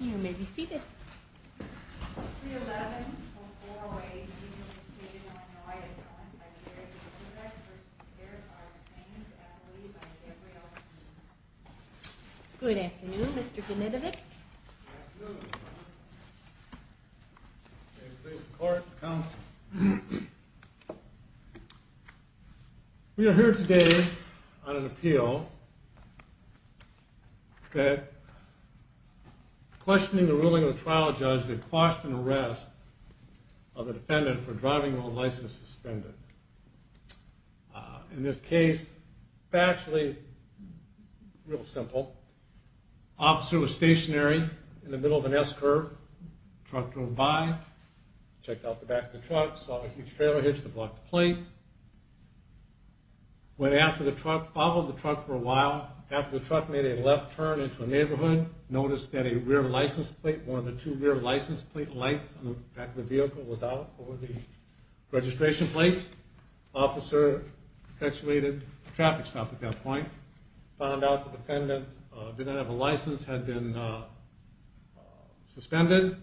you may be seated. Good afternoon, Mr. Peel, that questioning the ruling of the trial judge that quashed an arrest of a defendant for driving while license suspended. In this case, factually, real simple, officer was stationary in the middle of an S-curve, truck drove by, checked out the back of the truck, saw a huge trailer hitch that blocked the plate, went after the truck, followed the truck for a while, after the truck made a left turn into a neighborhood, noticed that a rear license plate, one of the two rear license plate lights on the back of the vehicle was out over the registration plates, officer perpetuated a traffic stop at that point, found out the defendant didn't have a license, had been suspended,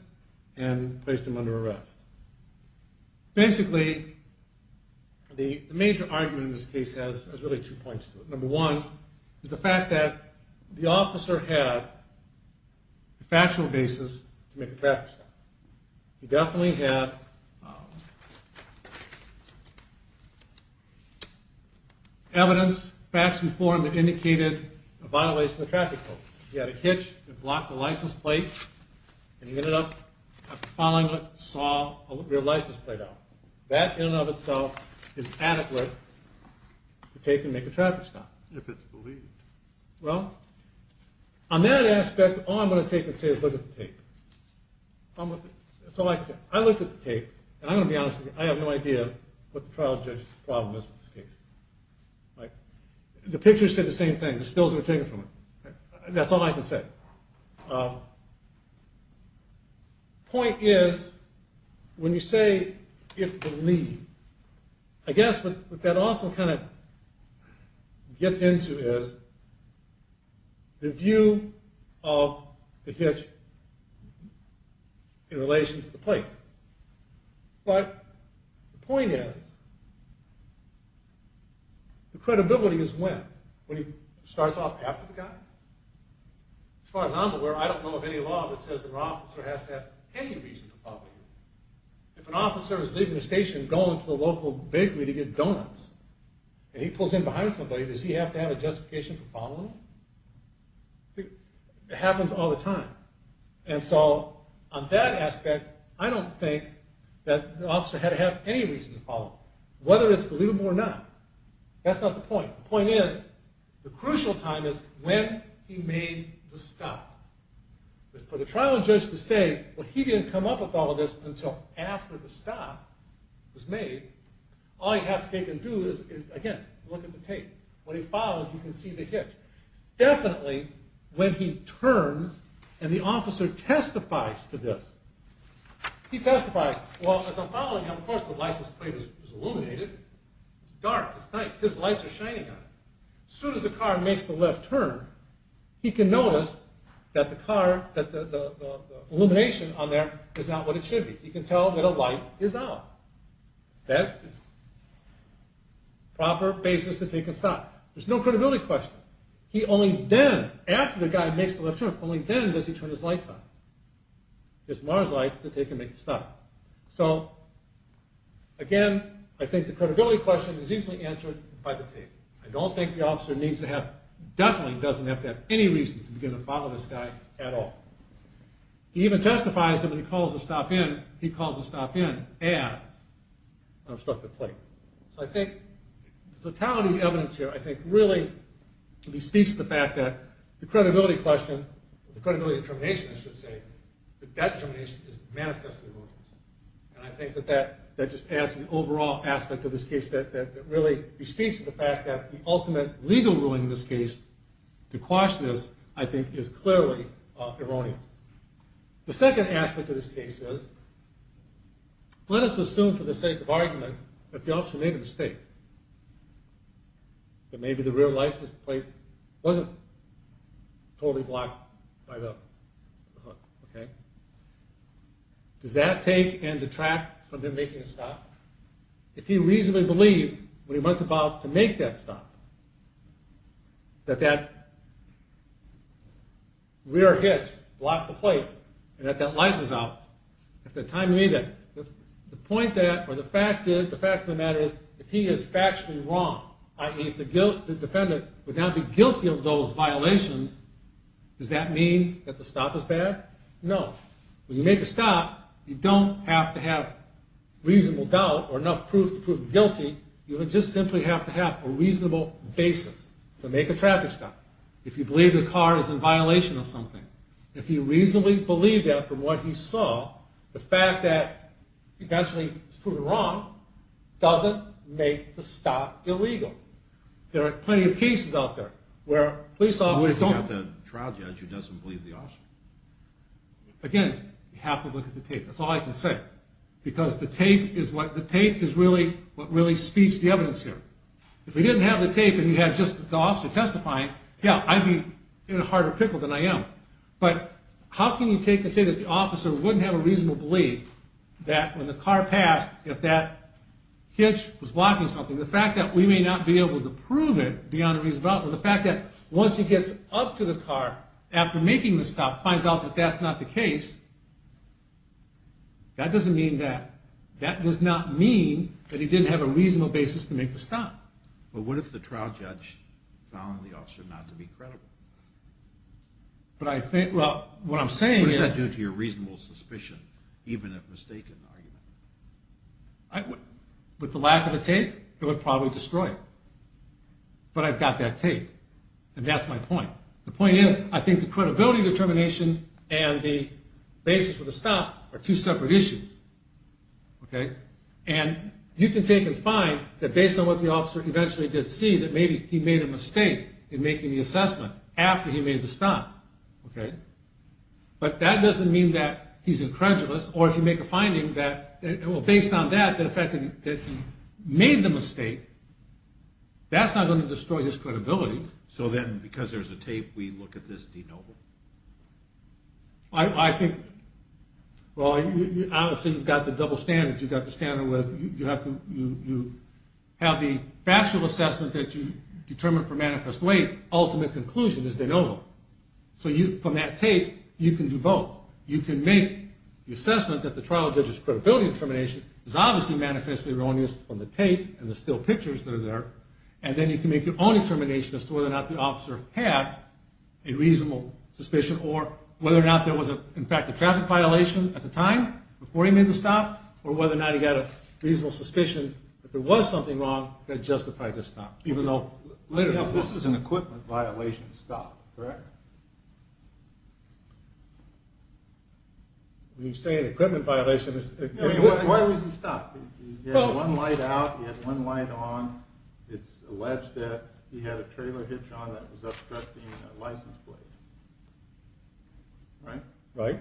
and placed him under arrest. Basically, the major argument in this case has really two points to it. Number one is the fact that the officer had a factual basis to make a traffic stop. He definitely had evidence, facts before him that indicated a violation of the traffic code. He had a hitch that blocked the license plate, and he ended up following it, saw a rear license plate out. That in and of itself is adequate to take and make a traffic stop. Well, on that aspect, all I'm going to take and say is look at the tape. That's all I can say. I looked at the tape, and I'm going to be honest with you, I have no idea what the trial judge's problem is with this case. Like, the picture said the That's all I can say. Point is, when you say, if believe, I guess what that also kind of gets into is the view of the hitch in relation to the plate. But, the point is, the As far as I'm aware, I don't know of any law that says that an officer has to have any reason to follow you. If an officer is leaving a station, going to a local bakery to get donuts, and he pulls in behind somebody, does he have to have a justification for following him? It happens all the time. And so, on that aspect, I don't think that the officer had to have any reason to follow him. Whether it's believable or not, that's not the point. The point is, the crucial time is when he made the stop. For the trial judge to say, well, he didn't come up with all of this until after the stop was made, all he has to take and do is, again, look at the tape. When he follows, you can see the hitch. Definitely, when he turns, and the officer testifies to this, he testifies, well, if I'm following him, of course the license plate is illuminated. It's dark. It's night. His lights are shining on him. As soon as the car makes the left turn, he can notice that the car, that the illumination on there is not what it should be. He can tell that a light is out. That is proper basis to take and stop. There's no credibility question. He only then, after the guy makes the left turn, only then does he turn his lights on. His MARS lights that they can make the stop. So, again, I think the credibility question is easily answered by the tape. I don't think the officer needs to have, definitely doesn't have to have any reason to begin to follow this guy at all. He even testifies that when he calls the stop in, he calls the stop in as an obstructed plate. So I think the totality of the evidence here, I think, really bespeaks the fact that the credibility question, the credibility of termination, I should say, that that termination is manifestly wrong. And I think that that just adds to the overall aspect of this case that really bespeaks the fact that the ultimate legal ruling in this case to quash this, I think, is clearly erroneous. The second aspect of this case is, let us assume for the sake of argument that the officer made a mistake. That maybe the rear license plate wasn't totally blocked by the hook. Does that take and detract from him making a stop? If he reasonably believed, when he went about to make that stop, that that rear hitch blocked the plate and that that light was out, if the point that, or the fact of the matter is, if he is factually wrong, i.e. the defendant would not be guilty of those violations, does that mean that the stop is bad? No. When you make a stop, you don't have to have reasonable doubt or enough proof to prove guilty. You would just simply have to have a reasonable basis to make a traffic stop. If you believe the car is in violation of something, if you reasonably believe that from what he saw, the fact that eventually he's proven wrong doesn't make the stop illegal. There are plenty of cases out there where police officers don't. What if you have a trial judge who doesn't believe the officer? Again, you have to look at the tape. That's all I can say because the tape is what really speaks the evidence here. If we didn't have the tape and you had just the officer testifying, yeah, I'd be in a harder pickle than I am. But how can you take and say that the officer wouldn't have a reasonable belief that when the car passed, if that hitch was blocking something, the fact that we may not be able to prove it beyond a reasonable doubt, or the fact that once he gets up to the car after making the stop, finds out that that's not the case, that doesn't mean that. That does not mean that he didn't have a reasonable basis to make the stop. But what if the trial judge found the officer not to be credible? What does that do to your reasonable suspicion, even if mistaken? With the lack of the tape, it would probably destroy it. But I've got that tape, and that's my point. The point is, I think the credibility determination and the basis for the stop are two separate issues. And you can take and find that based on what the officer eventually did see, that maybe he made a mistake in making the assessment after he made the stop. But that doesn't mean that he's incredulous. Or if you make a finding that, well, based on that, the fact that he made the mistake, that's not going to destroy his credibility. So then, because there's a tape, we look at this de novo? I think, well, obviously, you've got the double standards. You've got the standard with you have the factual assessment that you determined for manifest weight. Ultimate conclusion is de novo. So from that tape, you can do both. You can make the assessment that the trial judge's credibility determination is obviously manifestly erroneous from the tape and the still pictures that are there. And then you can make your own determination as to whether or not the officer had a reasonable suspicion or whether or not there was, in fact, a traffic violation at the time before he made the stop or whether or not he had a reasonable suspicion that there was something wrong that justified the stop. This is an equipment violation stop, correct? When you say an equipment violation... Why was he stopped? He had one light out, he had one light on. It's alleged that he had a trailer hitch on that was obstructing a license plate. Right? Right.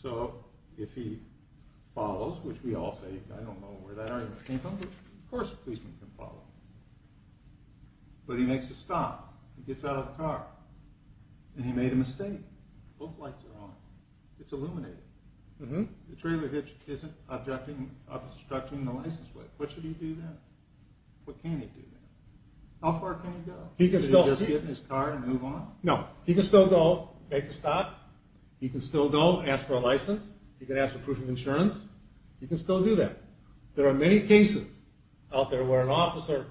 So if he follows, which we all say, I don't know where that argument came from, but of course a policeman can follow. But he makes a stop, he gets out of the car, and he made a mistake. Both lights are on. It's illuminated. The trailer hitch isn't obstructing the license plate. What should he do then? What can he do then? How far can he go? Is he just get in his car and move on? No. He can still go make the stop. He can still go ask for a license. He can ask for proof of insurance. He can still do that. There are many cases out there where an officer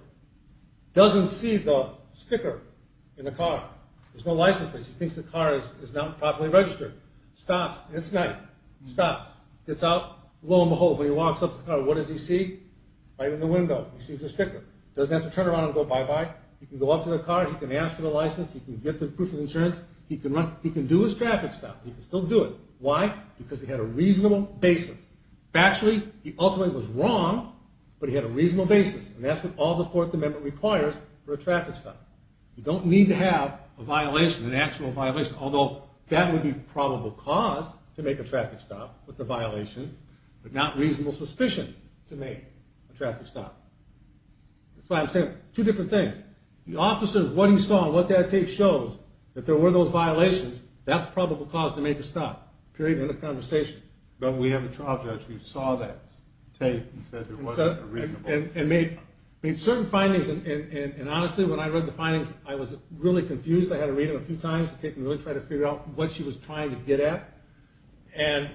doesn't see the sticker in the car. There's no license plate. He thinks the car is not properly registered. Stops. It's night. Stops. Gets out. Lo and behold, when he walks up to the car, what does he see? Right in the window, he sees the sticker. Doesn't have to turn around and go bye-bye. He can go up to the car. He can ask for the license. He can get the proof of insurance. He can do his traffic stop. He can still do it. Why? Because he had a reasonable basis. Factually, he ultimately was wrong, but he had a reasonable basis. And that's what all the Fourth Amendment requires for a traffic stop. You don't need to have a violation, an actual violation, although that would be probable cause to make a traffic stop with the violation, but not reasonable suspicion to make a traffic stop. That's why I'm saying two different things. The officer, what he saw and what that tape shows, if there were those violations, that's probable cause to make a stop, period, end of conversation. But we have a trial judge who saw that tape and said it wasn't reasonable. And made certain findings, and honestly, when I read the findings, I was really confused. I had to read them a few times to try to figure out what she was trying to get at. And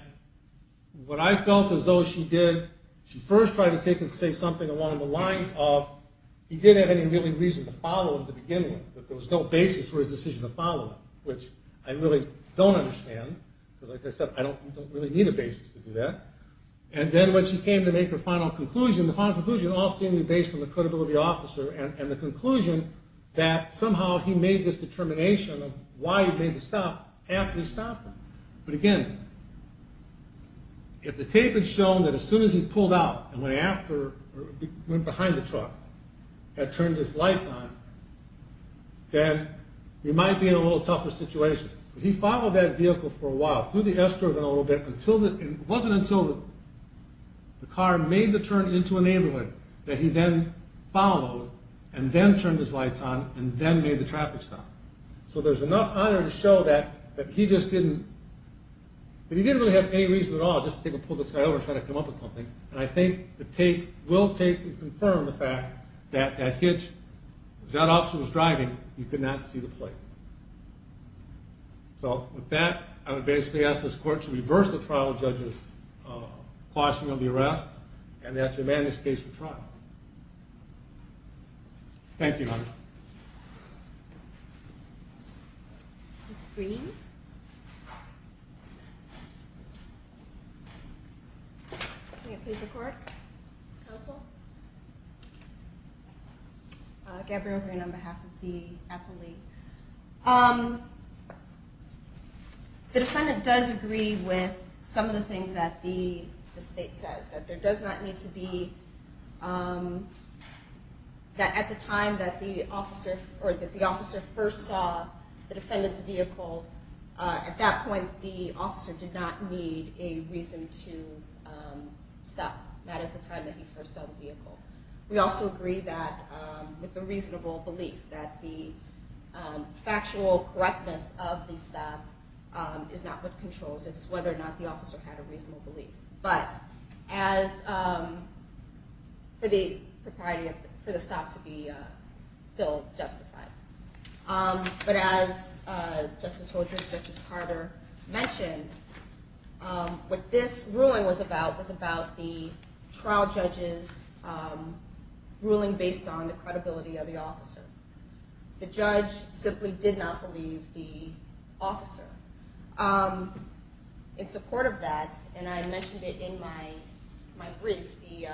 what I felt as though she did, she first tried to take and say something along the lines of, he didn't have any really reason to follow him to begin with, that there was no basis for his decision to follow him, which I really don't understand, because like I said, I don't really need a basis to do that. And then when she came to make her final conclusion, the final conclusion all seemed to be based on the credibility of the officer and the conclusion that somehow he made this determination of why he made the stop after he stopped her. But again, if the tape had shown that as soon as he pulled out and went behind the truck and turned his lights on, then we might be in a little tougher situation. But he followed that vehicle for a while, through the S-turn a little bit, and it wasn't until the car made the turn into a neighborhood that he then followed and then turned his lights on and then made the traffic stop. So there's enough on there to show that he just didn't, that he didn't really have any reason at all just to pull this guy over and try to come up with something. And I think the tape will take and confirm the fact that that hitch, if that officer was driving, you could not see the plate. So with that, I would basically ask this court to reverse the trial judge's caution on the arrest and that the Amanda's case be tried. Thank you. Ms. Green? May it please the court? Counsel? Gabrielle Green on behalf of the appellate. The defendant does agree with some of the things that the state says, that there does not need to be, that at the time that the officer first saw the defendant's vehicle, at that point the officer did not need a reason to stop, not at the time that he first saw the vehicle. We also agree with the reasonable belief that the factual correctness of the stop is not what controls. It's whether or not the officer had a reasonable belief. But as for the stop to be still justified. But as Justice Holdren and Justice Carter mentioned, what this ruling was about was about the trial judge's ruling based on the credibility of the officer. The judge simply did not believe the officer. In support of that, and I mentioned it in my brief, the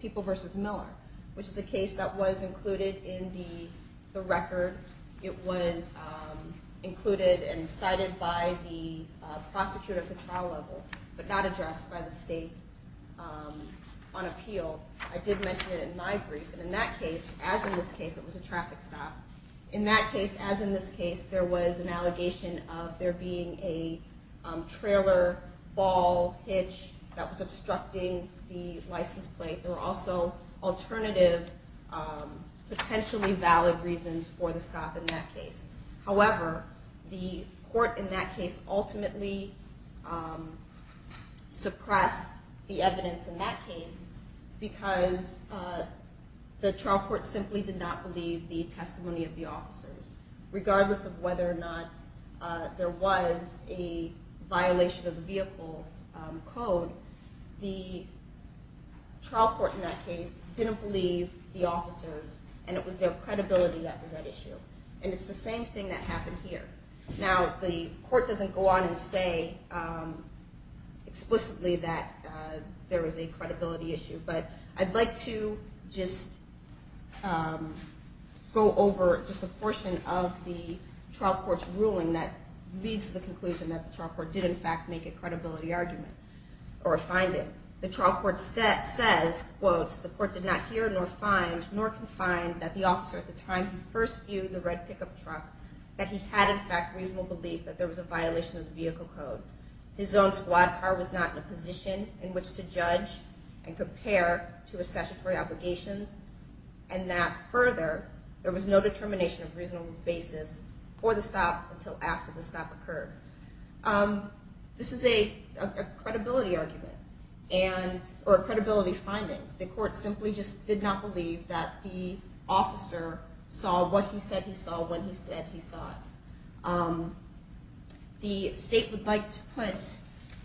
People v. Miller, which is a case that was included in the record. It was included and cited by the prosecutor at the trial level, but not addressed by the state on appeal. I did mention it in my brief. And in that case, as in this case, it was a traffic stop. In that case, as in this case, there was an allegation of there being a trailer ball hitch that was obstructing the license plate. There were also alternative potentially valid reasons for the stop in that case. However, the court in that case ultimately suppressed the evidence in that case because the trial court simply did not believe the testimony of the officers. Regardless of whether or not there was a violation of the vehicle code, the trial court in that case didn't believe the officers, and it was their credibility that was at issue. And it's the same thing that happened here. Now, the court doesn't go on and say explicitly that there was a credibility issue, but I'd like to just go over just a portion of the trial court's ruling that leads to the conclusion that the trial court did, in fact, make a credibility argument or a finding. The trial court says, quotes, the court did not hear nor find, nor can find that the officer at the time he first viewed the red pickup truck, that he had, in fact, reasonable belief that there was a violation of the vehicle code. His own squad car was not in a position in which to judge and compare to his statutory obligations, and that further there was no determination of reasonable basis for the stop until after the stop occurred. This is a credibility argument or a credibility finding. The court simply just did not believe that the officer saw what he said he saw when he said he saw it. The state would like to put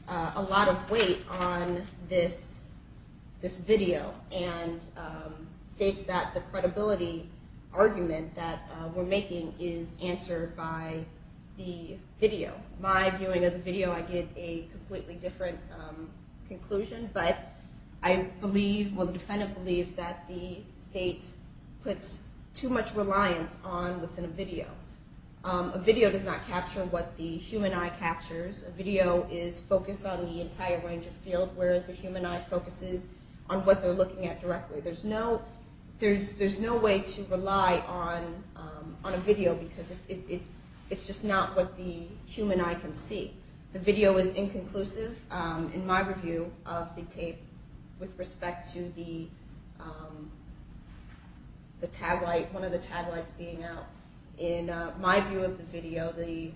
a lot of weight on this video and states that the credibility argument that we're making is answered by the video. My viewing of the video, I get a completely different conclusion, but I believe, well, the defendant believes that the state puts too much reliance on what's in a video. A video does not capture what the human eye captures. A video is focused on the entire range of field, whereas the human eye focuses on what they're looking at directly. There's no way to rely on a video because it's just not what the human eye can see. The video is inconclusive. In my review of the tape with respect to the tag light, one of the tag lights being out, in my view of the video, the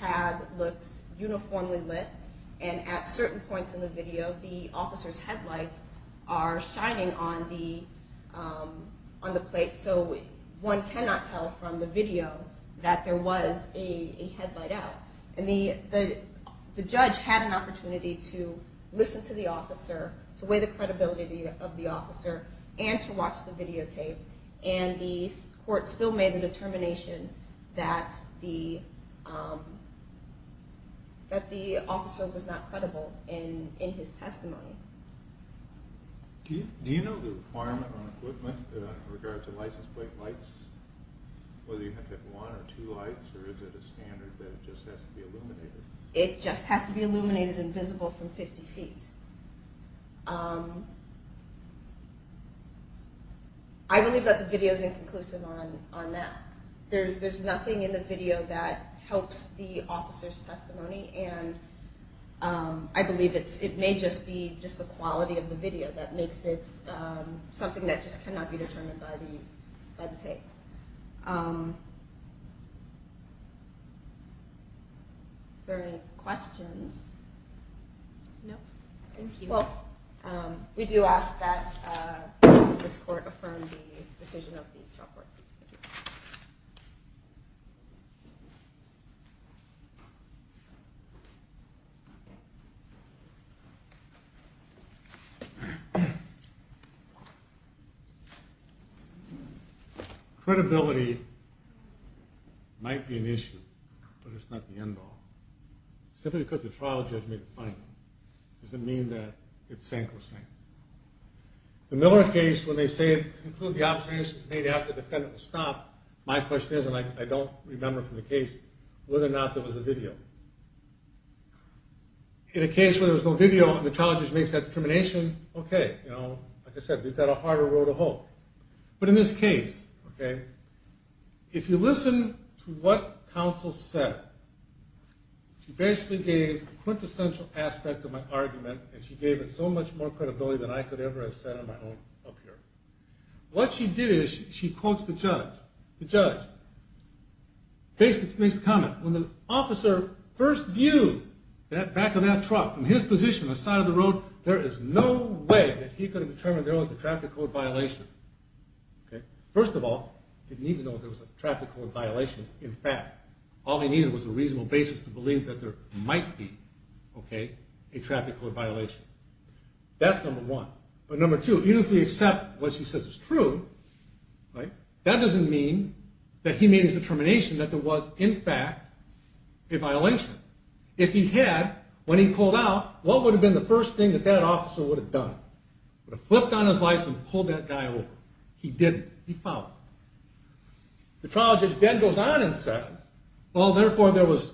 tag looks uniformly lit, and at certain points in the video, the officer's headlights are shining on the plate, so one cannot tell from the video that there was a headlight out. The judge had an opportunity to listen to the officer, to weigh the credibility of the officer, and to watch the videotape. The court still made the determination that the officer was not credible in his testimony. Do you know the requirement on equipment in regard to license plate lights, whether you have to have one or two lights, or is it a standard that it just has to be illuminated? It just has to be illuminated and visible from 50 feet. I believe that the video is inconclusive on that. There's nothing in the video that helps the officer's testimony, and I believe it may just be the quality of the video that makes it something that just cannot be determined by the tape. Are there any questions? No? Thank you. Well, we do ask that this court affirm the decision of the trial court. Credibility might be an issue, but it's not the end all. Simply because the trial judge made the final, doesn't mean that it sank or sank. The Miller case, when they say, to conclude the observations made after the defendant was stopped, my question is, and I don't remember from the case, whether or not there was a video. In a case where there's no video and the trial judge makes that determination, okay, you know, like I said, we've got a harder road to hope. But in this case, okay, if you listen to what counsel said, she basically gave the quintessential aspect of my argument, and she gave it so much more credibility than I could ever have said on my own up here. What she did is she quotes the judge. The judge basically makes the comment, when the officer first viewed that back of that truck from his position, the side of the road, there is no way that he could have determined there was a traffic code violation. First of all, he didn't even know there was a traffic code violation. In fact, all he needed was a reasonable basis to believe that there might be, okay, a traffic code violation. That's number one. But number two, even if we accept what she says is true, that doesn't mean that he made his determination that there was, in fact, a violation. If he had, when he pulled out, what would have been the first thing that that officer would have done? He would have flipped on his lights and pulled that guy over. He didn't. He followed. The trial judge then goes on and says, well, therefore there was,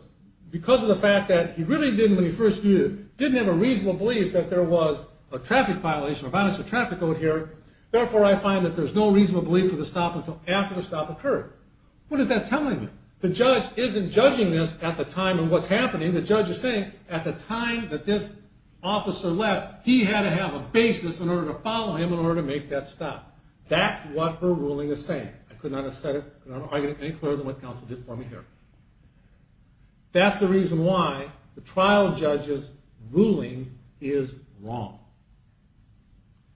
because of the fact that he really didn't, when he first viewed it, didn't have a reasonable belief that there was a traffic violation, a violation of traffic code here, therefore I find that there's no reasonable belief for the stop until after the stop occurred. What is that telling me? The judge isn't judging this at the time of what's happening. The judge is saying at the time that this officer left, he had to have a basis in order to follow him in order to make that stop. That's what her ruling is saying. I could not have said it any clearer than what counsel did for me here. That's the reason why the trial judge's ruling is wrong.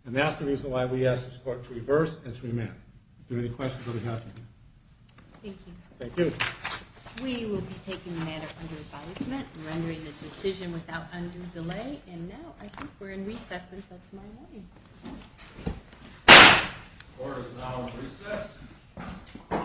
And that's the reason why we ask this court to reverse and to amend. If there are any questions, let me know. Thank you. Thank you. We will be taking the matter under advisement and rendering the decision without undue delay. And now I think we're in recess until tomorrow morning. Court is now in recess.